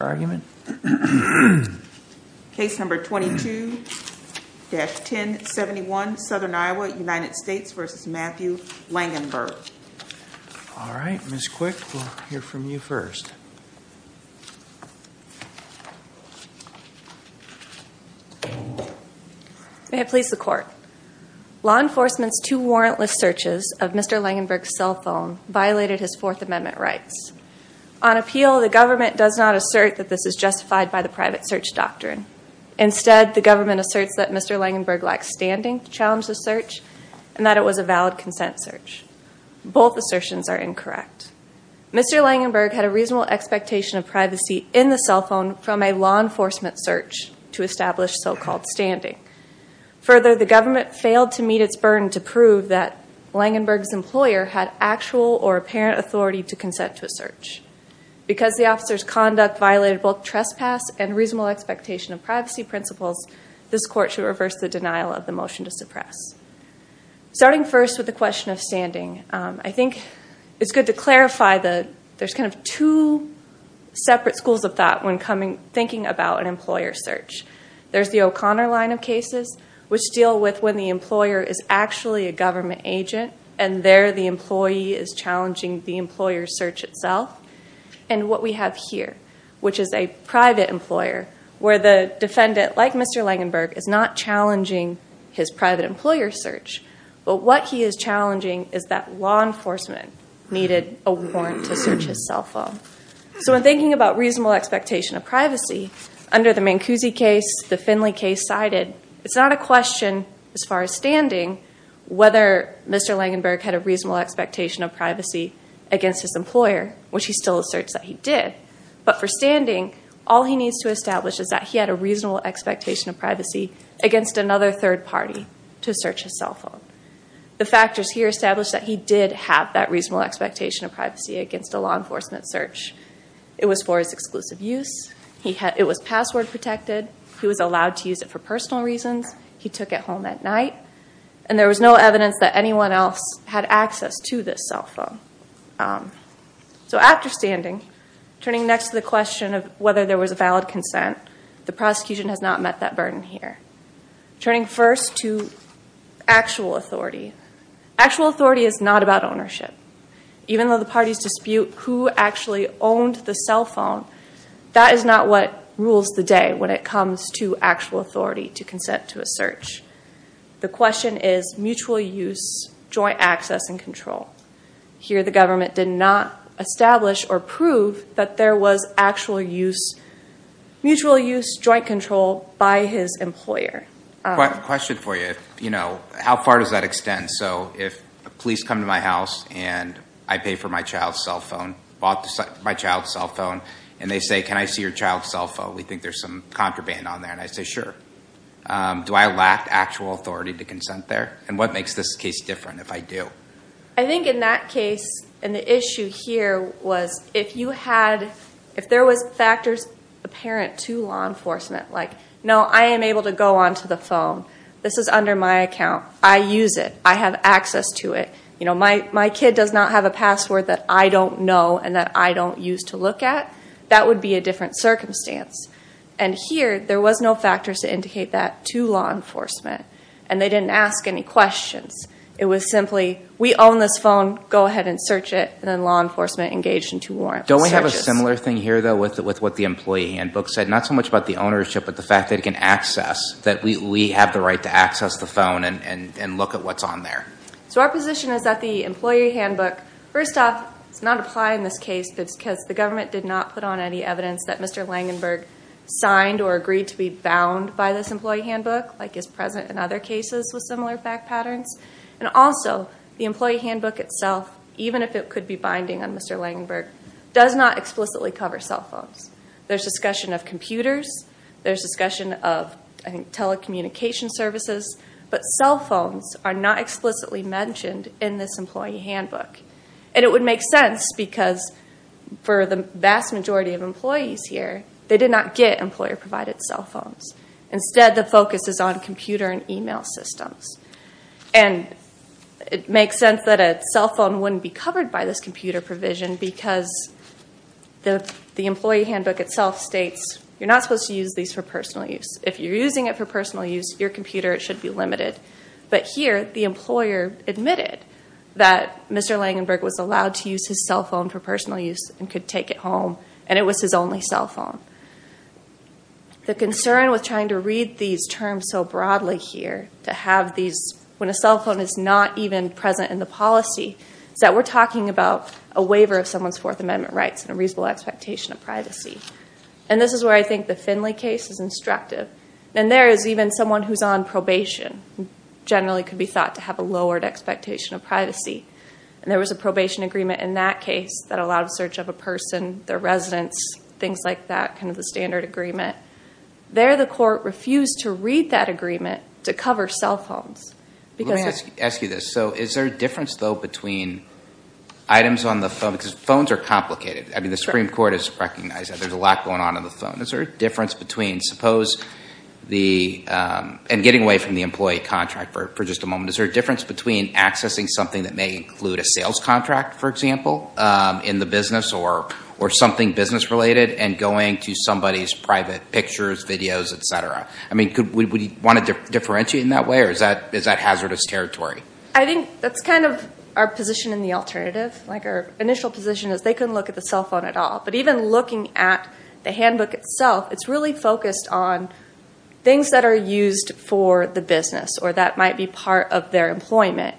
May I please the court? Law enforcement's two warrantless searches of Mr. Langenberg's cell phone violated his Fourth Amendment rights. On appeal, the government does not assert that this is justified by the private search doctrine. Instead, the government asserts that Mr. Langenberg lacked standing to challenge the search and that it was a valid consent search. Both assertions are incorrect. Mr. Langenberg had a reasonable expectation of privacy in the cell phone from a law enforcement search to establish so-called standing. Further, the government failed to meet its burden to prove that Langenberg's employer had actual or apparent authority to consent to a search. Because the officer's conduct violated both trespass and reasonable expectation of privacy principles, this court should reverse the denial of the motion to suppress. Starting first with the question of standing, I think it's good to clarify that there's kind of two separate schools of thought when thinking about an employer search. There's the O'Connor line of cases, which deal with when the employer is actually a employee, is challenging the employer's search itself. And what we have here, which is a private employer, where the defendant, like Mr. Langenberg, is not challenging his private employer's search, but what he is challenging is that law enforcement needed a warrant to search his cell phone. So in thinking about reasonable expectation of privacy, under the Mancusi case, the Finley case cited, it's not a question as far as standing whether Mr. Langenberg had a reasonable expectation of privacy against his employer, which he still asserts that he did. But for standing, all he needs to establish is that he had a reasonable expectation of privacy against another third party to search his cell phone. The factors here establish that he did have that reasonable expectation of privacy against a law enforcement search. It was for his exclusive use. It was password protected. He was allowed to use it for personal reasons. He took it home that night. And there was no evidence that anyone else had access to this cell phone. So after standing, turning next to the question of whether there was a valid consent, the prosecution has not met that burden here. Turning first to actual authority. Actual authority is not about ownership. Even though the parties dispute who actually owned the cell phone, that is not what rules the day when it comes to actual authority to consent to a search. The question is mutual use, joint access, and control. Here the government did not establish or prove that there was actual use, mutual use, joint control by his employer. Question for you. How far does that extend? So if police come to my house and I pay for my child's cell phone, bought my child's cell phone, and they say, can I see your child's cell phone, we think there's some contraband on there. And I say, sure. Do I lack actual authority to consent there? And what makes this case different if I do? I think in that case, and the issue here was if you had, if there was factors apparent to law enforcement, like, no, I am able to go onto the phone. This is under my account. I use it. I have access to it. You know, my kid does not have a password that I don't know and that I don't use to look at. That would be a different circumstance. And here, there was no factors to indicate that to law enforcement, and they didn't ask any questions. It was simply, we own this phone. Go ahead and search it. And then law enforcement engaged in two warrant searches. Don't we have a similar thing here, though, with what the employee handbook said? Not so much about the ownership, but the fact that it can access, that we have the right to access the phone and look at what's on there. So our position is that the employee handbook, first off, does not apply in this case because the government did not put on any evidence that Mr. Langenberg signed or agreed to be bound by this employee handbook, like is present in other cases with similar fact patterns. And also, the employee handbook itself, even if it could be binding on Mr. Langenberg, does not explicitly cover cell phones. There's discussion of computers. There's discussion of, I think, telecommunication services. But cell phones are not explicitly mentioned in this employee handbook. And it would make sense because for the vast majority of employees here, they did not get employer-provided cell phones. Instead, the focus is on computer and email systems. And it makes sense that a cell phone wouldn't be covered by this computer provision because the employee handbook itself states you're not supposed to use these for personal use. If you're using it for personal use, your computer, it should be limited. But here, the employer admitted that Mr. Langenberg was allowed to use his cell phone for personal use and could take it home. And it was his only cell phone. The concern with trying to read these terms so broadly here, to have these, when a cell phone is not even present in the policy, is that we're talking about a waiver of someone's Fourth Amendment rights and a reasonable expectation of privacy. And this is where I think the Finley case is instructive. And there is even someone who's on probation, who generally could be thought to have a lowered expectation of privacy. And there was a probation agreement in that case that allowed search of a person, their residence, things like that, kind of the standard agreement. There, the court refused to read that agreement to cover cell phones. Let me ask you this. So is there a difference, though, between items on the phone? Because phones are complicated. I mean, the Supreme Court has recognized that there's a lot going on in the phone. Is there a difference between suppose the, and getting away from the employee contract for just a moment, is there a difference between accessing something that may include a sales contract, for example, in the business or something business related, and going to somebody's private pictures, videos, et cetera? I mean, would you want to differentiate in that way, or is that hazardous territory? I think that's kind of our position in the alternative. Like, our initial position is they couldn't look at the cell phone at all. But even looking at the handbook itself, it's really focused on things that are used for the business, or that might be part of their employment.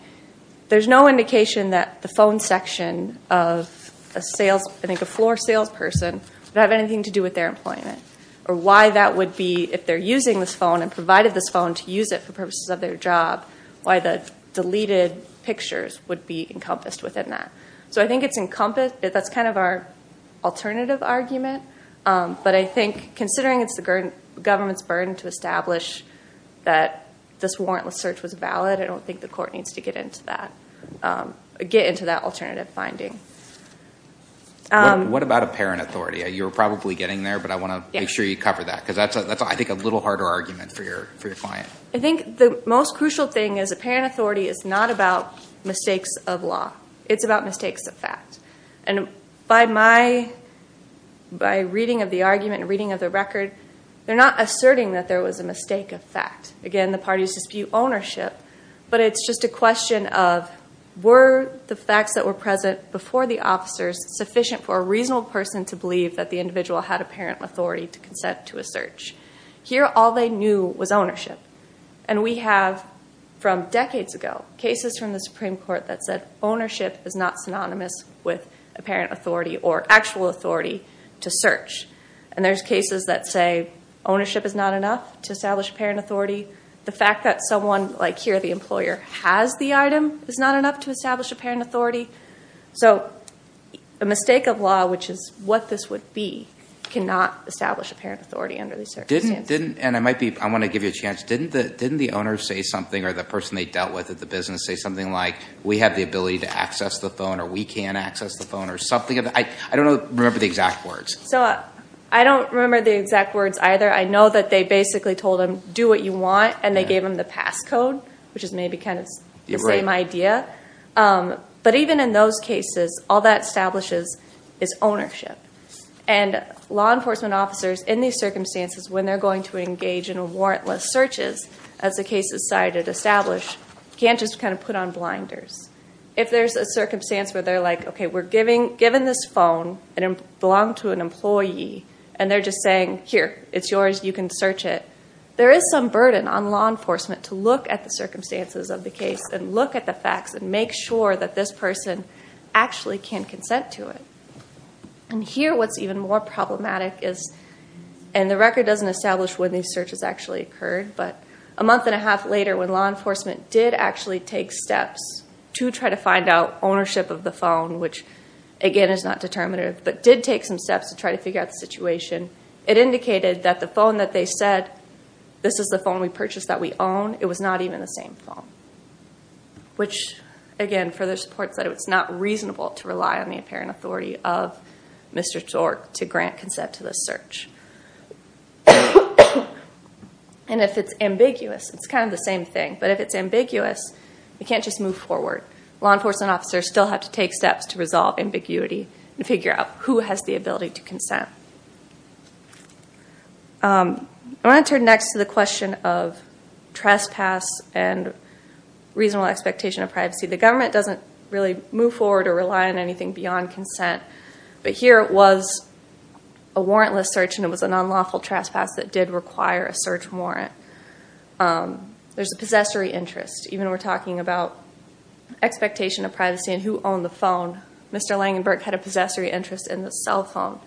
There's no indication that the phone section of a sales, I think a floor salesperson, would have anything to do with their employment, or why that would be, if they're using this phone and provided this phone to use it for purposes of their job, why the deleted pictures would be encompassed within that. So I think it's encompassed, that's kind of our alternative argument. But I think, considering it's the government's burden to establish that this warrantless search was valid, I don't think the court needs to get into that, get into that alternative finding. What about apparent authority? You were probably getting there, but I want to make sure you cover that, because that's I think a little harder argument for your client. I think the most crucial thing is apparent authority is not about mistakes of law. It's about mistakes of fact. And by reading of the argument and reading of the record, they're not asserting that there was a mistake of fact. Again, the parties dispute ownership, but it's just a question of, were the facts that were present before the officers sufficient for a reasonable person to believe that the individual had apparent authority to consent to a search? Here all they knew was ownership. And we have from decades ago, cases from the Supreme Court that said ownership is not synonymous with apparent authority or actual authority to search. And there's cases that say ownership is not enough to establish apparent authority. The fact that someone, like here the employer, has the item is not enough to establish apparent authority. So a mistake of law, which is what this would be, cannot establish apparent authority under these circumstances. And I might be, I want to give you a chance, didn't the owner say something or the person they dealt with at the business say something like, we have the ability to access the phone or we can access the phone or something? I don't remember the exact words. So I don't remember the exact words either. I know that they basically told him, do what you want, and they gave him the passcode, which is maybe kind of the same idea. But even in those cases, all that establishes is ownership. And law enforcement officers, in these circumstances, when they're going to engage in warrantless searches, as the case is cited, established, can't just kind of put on blinders. If there's a circumstance where they're like, okay, we're given this phone, it belonged to an employee, and they're just saying, here, it's yours, you can search it, there is some burden on law enforcement to look at the circumstances of the case and look at the facts and make sure that this person actually can consent to it. And here, what's even more problematic is, and the record doesn't establish when these searches actually occurred, but a month and a half later, when law enforcement did actually take steps to try to find out ownership of the phone, which, again, is not determinative, but did take some steps to try to figure out the situation, it indicated that the phone that they said, this is the phone we purchased that we own, it was not even the same phone, which, again, further supports that it's not reasonable to rely on the apparent authority of Mr. Zork to grant consent to this search. And if it's ambiguous, it's kind of the same thing, but if it's ambiguous, you can't just move forward. Law enforcement officers still have to take steps to resolve ambiguity and figure out who has the ability to consent. I want to turn next to the question of trespass and reasonable expectation of privacy. The government doesn't really move forward or rely on anything beyond consent, but here it was a warrantless search and it was a non-lawful trespass that did require a search warrant. There's a possessory interest, even when we're talking about expectation of privacy and who owned the phone, Mr. Langenberg had a possessory interest in the cell phone.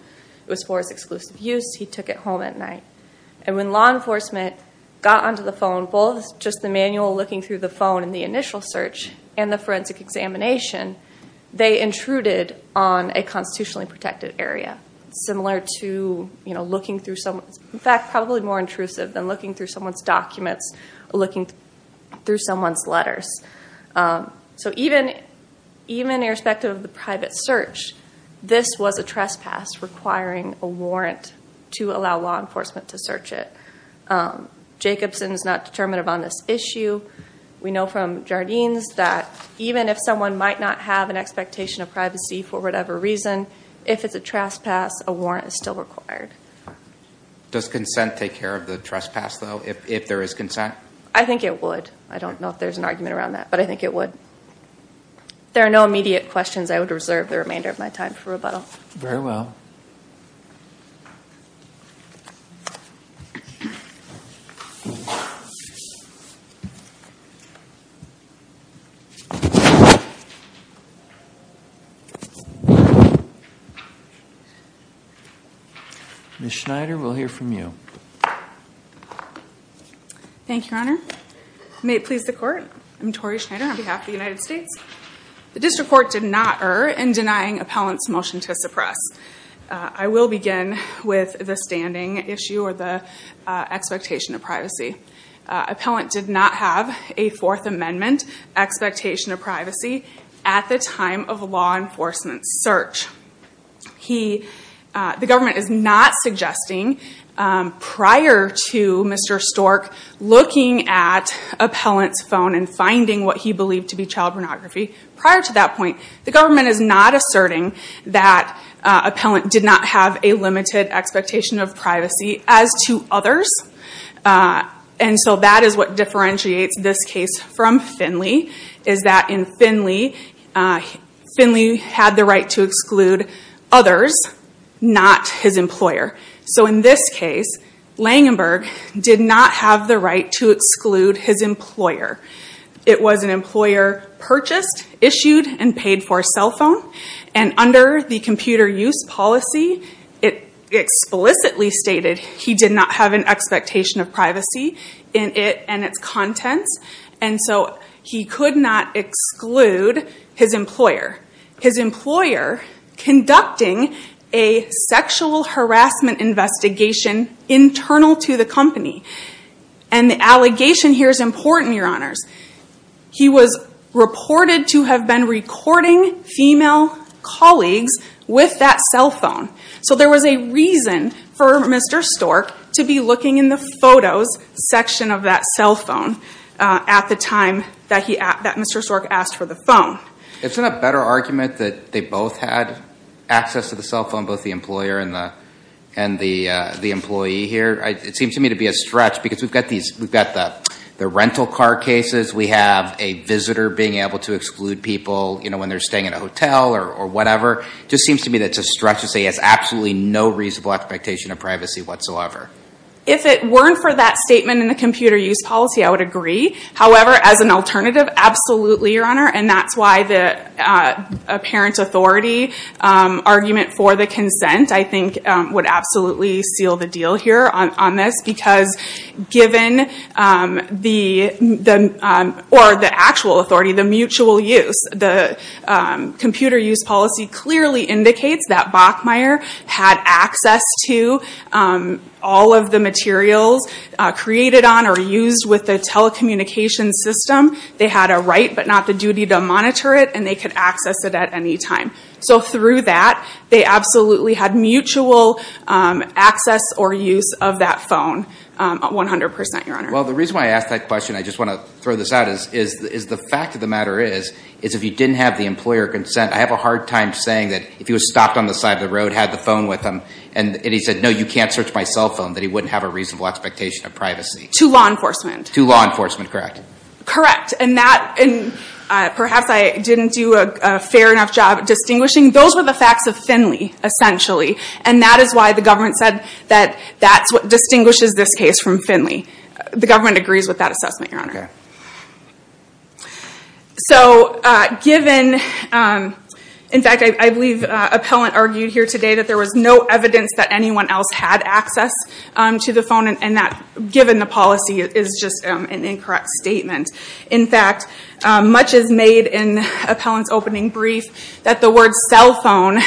It was for his exclusive use. He took it home at night. And when law enforcement got onto the phone, both just the manual looking through the phone in the initial search and the forensic examination, they intruded on a constitutionally protected area, similar to looking through someone's, in fact, probably more intrusive than looking through someone's documents or looking through someone's letters. So even irrespective of the private search, this was a trespass requiring a warrant to allow law enforcement to search it. Jacobson is not determinative on this issue. We know from Jardines that even if someone might not have an expectation of privacy for whatever reason, if it's a trespass, a warrant is still required. Does consent take care of the trespass, though, if there is consent? I think it would. I don't know if there's an argument around that, but I think it would. There are no immediate questions. I would reserve the remainder of my time for rebuttal. Very well. Ms. Schneider, we'll hear from you. Thank you, Your Honor. May it please the Court, I'm Tori Schneider on behalf of the United States. The District Court did not err in denying Appellant's motion to suppress. I will begin with the standing issue or the expectation of privacy. Appellant did not have a Fourth Amendment expectation of privacy at the time of a law enforcement search. The government is not suggesting, prior to Mr. Stork looking at Appellant's phone and finding what he believed to be child pornography, prior to that point, the government is not asserting that Appellant did not have a limited expectation of privacy as to others. That is what differentiates this case from Finley, is that in Finley, Finley had the right to exclude others, not his employer. So, in this case, Langenberg did not have the right to exclude his employer. It was an employer purchased, issued, and paid for a cell phone, and under the computer use policy, it explicitly stated he did not have an expectation of privacy in it and its contents, and so he could not exclude his employer. His employer conducting a sexual harassment investigation internal to the company. And the allegation here is important, Your Honors. He was reported to have been recording female colleagues with that cell phone. So there was a reason for Mr. Stork to be looking in the photos section of that cell phone at the time that Mr. Stork asked for the phone. Isn't it a better argument that they both had access to the cell phone, both the employer and the employee here? It seems to me to be a stretch, because we've got the rental car cases, we have a visitor being able to exclude people when they're staying in a hotel or whatever. It just seems to me that it's a stretch to say he has absolutely no reasonable expectation of privacy whatsoever. If it weren't for that statement in the computer use policy, I would agree. However, as an alternative, absolutely, Your Honor. And that's why the apparent authority argument for the consent, I think, would absolutely seal the deal here on this. Because given the actual authority, the mutual use, the computer use policy clearly indicates that Bachmeier had access to all of the materials created on or used with the telecommunications system. They had a right, but not the duty, to monitor it, and they could access it at any time. So through that, they absolutely had mutual access or use of that phone, 100%, Your Honor. Well, the reason why I ask that question, I just want to throw this out, is the fact of the matter is, is if you didn't have the employer consent, I have a hard time saying that if he was stopped on the side of the road, had the phone with him, and he said, no, you can't search my cell phone, that he wouldn't have a reasonable expectation of privacy. To law enforcement. To law enforcement, correct. Correct. And perhaps I didn't do a fair enough job distinguishing. Those were the facts of Finley, essentially. And that is why the government said that that's what distinguishes this case from Finley. The government agrees with that assessment, Your Honor. So, given, in fact, I believe Appellant argued here today that there was no evidence that anyone else had access to the phone, and that, given the policy, is just an incorrect statement. In fact, much is made in Appellant's opening brief that the word cell phone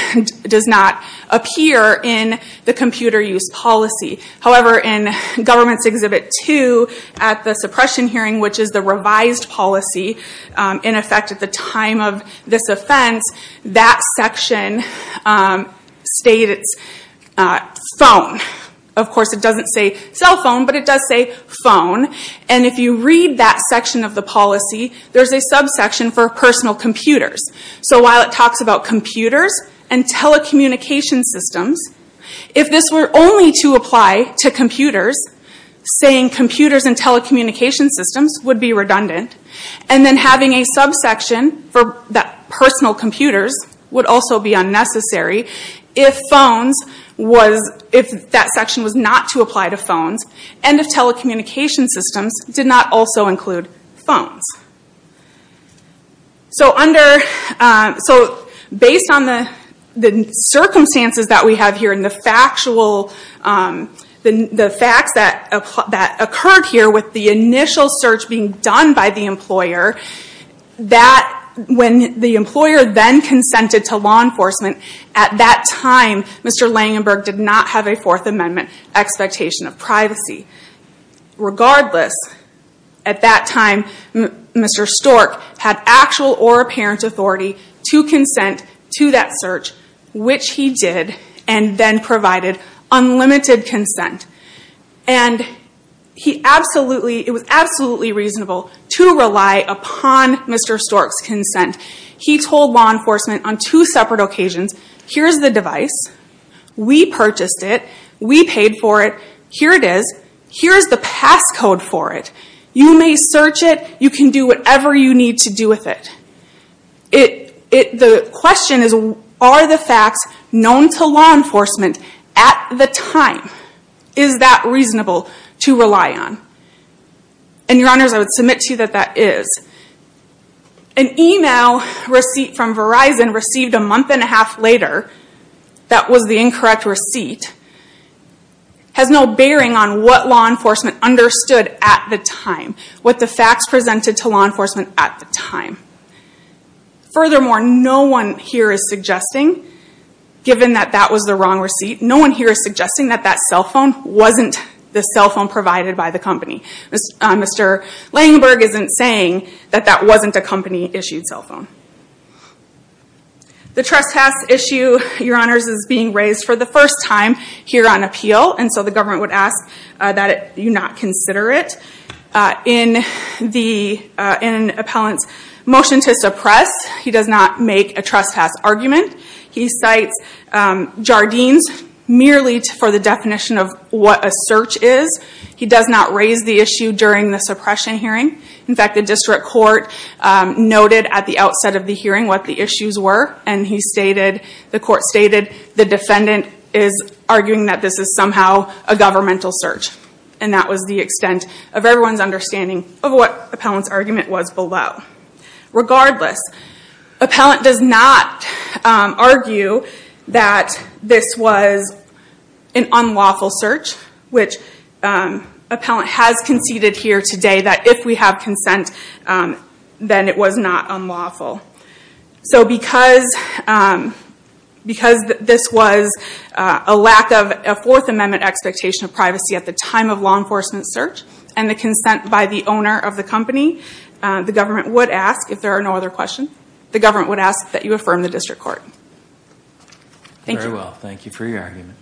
does not appear in the computer use policy. However, in Government's Exhibit 2, at the suppression hearing, which is the revised policy, in effect at the time of this offense, that section states it's phone. Of course, it doesn't say cell phone, but it does say phone. And if you read that section of the policy, there's a subsection for personal computers. So, while it talks about computers and telecommunications systems, if this were only to apply to computers, saying computers and telecommunications systems would be redundant. And then having a subsection for personal computers would also be unnecessary if that section was not to apply to phones, and if telecommunications systems did not also include phones. So, based on the circumstances that we have here and the facts that occurred here with the initial search being done by the employer, when the employer then consented to law enforcement, at that time, Mr. Langenberg did not have a Fourth Amendment expectation of privacy. Regardless, at that time, Mr. Stork had actual or apparent authority to consent to that search, which he did, and then provided unlimited consent. And it was absolutely reasonable to rely upon Mr. Stork's consent. He told law enforcement on two separate occasions, here's the device, we purchased it, we paid for it, here it is, here's the passcode for it. You may search it, you can do whatever you need to do with it. The question is, are the facts known to law enforcement at the time? Is that reasonable to rely on? And your honors, I would submit to you that that is. An email receipt from Verizon received a month and a half later, that was the incorrect receipt, has no bearing on what law enforcement understood at the time. What the facts presented to law enforcement at the time. Furthermore, no one here is suggesting, given that that was the wrong receipt, no one here is suggesting that that cell phone wasn't the cell phone provided by the company. Mr. Langenberg isn't saying that that wasn't a company-issued cell phone. The trespass issue, your honors, is being raised for the first time here on appeal, and so the government would ask that you not consider it. In an appellant's motion to suppress, he does not make a trespass argument. He cites Jardines merely for the definition of what a search is. He does not raise the issue during the suppression hearing. In fact, the district court noted at the outset of the hearing what the issues were, and the court stated the defendant is arguing that this is somehow a governmental search. And that was the extent of everyone's understanding of what the appellant's argument was below. Regardless, the appellant does not argue that this was an unlawful search, which appellant has conceded here today that if we have consent, then it was not unlawful. So because this was a lack of a Fourth Amendment expectation of privacy at the time of law enforcement search, and the consent by the owner of the company, the government would ask, if there are no other questions, the government would ask that you affirm the district court. Thank you. Very well. Thank you for your argument.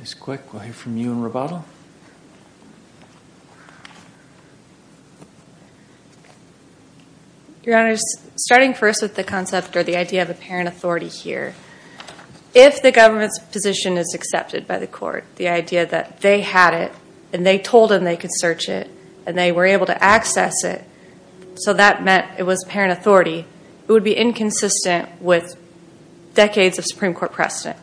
Ms. Quick, we'll hear from you in rebuttal. Your Honor, starting first with the concept or the idea of apparent authority here, if the government's position is accepted by the court, the idea that they had it, and they told them they could search it, and they were able to access it, so that meant it was apparent authority, it would be inconsistent with decades of Supreme Court precedent.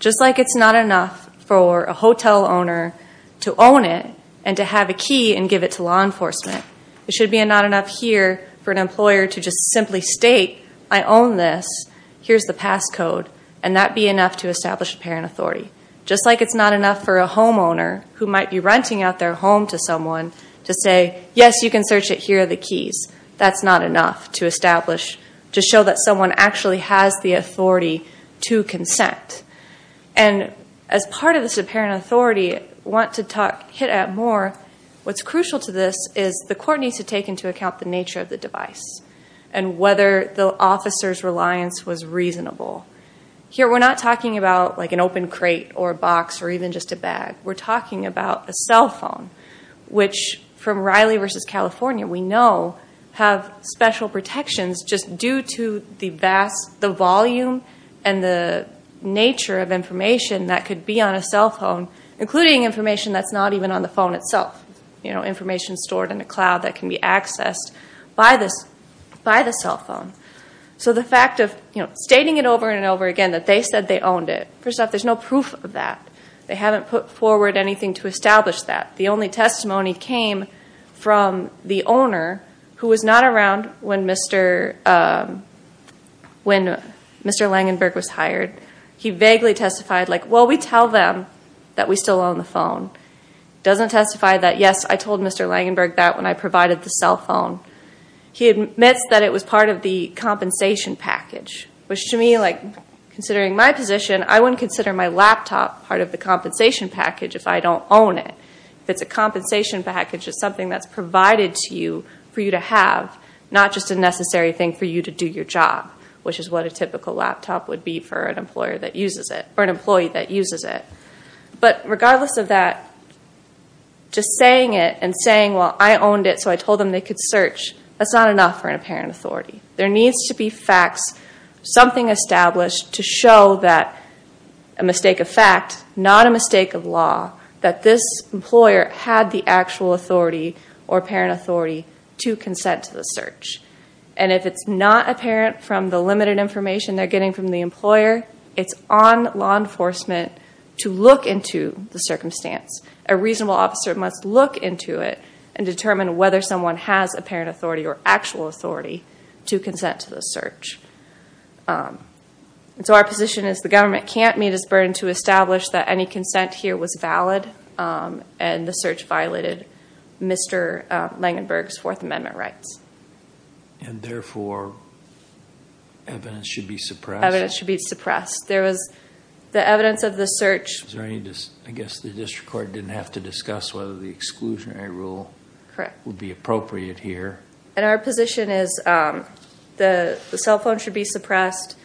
Just like it's not enough for a hotel owner to own it and to have a key and give it to law enforcement, it should be not enough here for an employer to just simply state, I own this, here's the pass code, and that be enough to establish apparent authority. Just like it's not enough for a homeowner who might be renting out their home to someone to say, yes, you can search it, here are the keys. That's not enough to establish, to show that someone actually has the authority to consent. And as part of this apparent authority, I want to talk, hit at more, what's crucial to this is the court needs to take into account the nature of the device and whether the officer's reliance was reasonable. Here we're not talking about like an open crate or a box or even just a bag. We're talking about a cell phone, which from Riley v. California we know have special protections just due to the volume and the nature of information that could be on a cell phone, including information that's not even on the phone itself, information stored in a cloud that can be accessed by the cell phone. So the fact of stating it over and over again that they said they owned it, first off, there's no proof of that. They haven't put forward anything to establish that. The only testimony came from the owner, who was not around when Mr. Langenberg was hired. He vaguely testified like, well, we tell them that we still own the phone. Doesn't testify that, yes, I told Mr. Langenberg that when I provided the cell phone. He admits that it was part of the compensation package, which to me, like, considering my position, I wouldn't consider my laptop part of the compensation package if I don't own it. If it's a compensation package, it's something that's provided to you for you to have, not just a necessary thing for you to do your job, which is what a typical laptop would be for an employee that uses it. But regardless of that, just saying it and saying, well, I owned it so I told them they could search, that's not enough for an apparent authority. There needs to be facts, something established to show that a mistake of fact, not a mistake of law, that this employer had the actual authority or apparent authority to consent to the search. And if it's not apparent from the limited information they're getting from the employer, it's on law enforcement to look into the circumstance. A reasonable officer must look into it and determine whether someone has apparent authority or actual authority to consent to the search. So our position is the government can't meet its burden to establish that any consent here was valid and the search violated Mr. Langenberg's Fourth Amendment rights. And therefore, evidence should be suppressed? Evidence should be suppressed. There was the evidence of the search. I guess the district court didn't have to discuss whether the exclusionary rule would be appropriate here. And our position is the cell phone should be suppressed,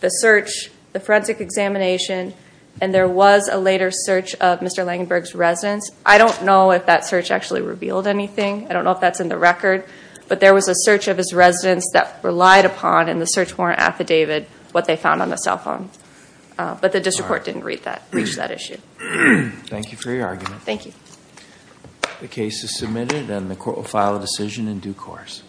the search, the forensic examination, and there was a later search of Mr. Langenberg's residence. I don't know if that search actually revealed anything. I don't know if that's in the record. But there was a search of his residence that relied upon in the search warrant affidavit what they found on the cell phone. But the district court didn't reach that issue. Thank you for your argument. Thank you. The case is submitted and the court will file a decision in due course.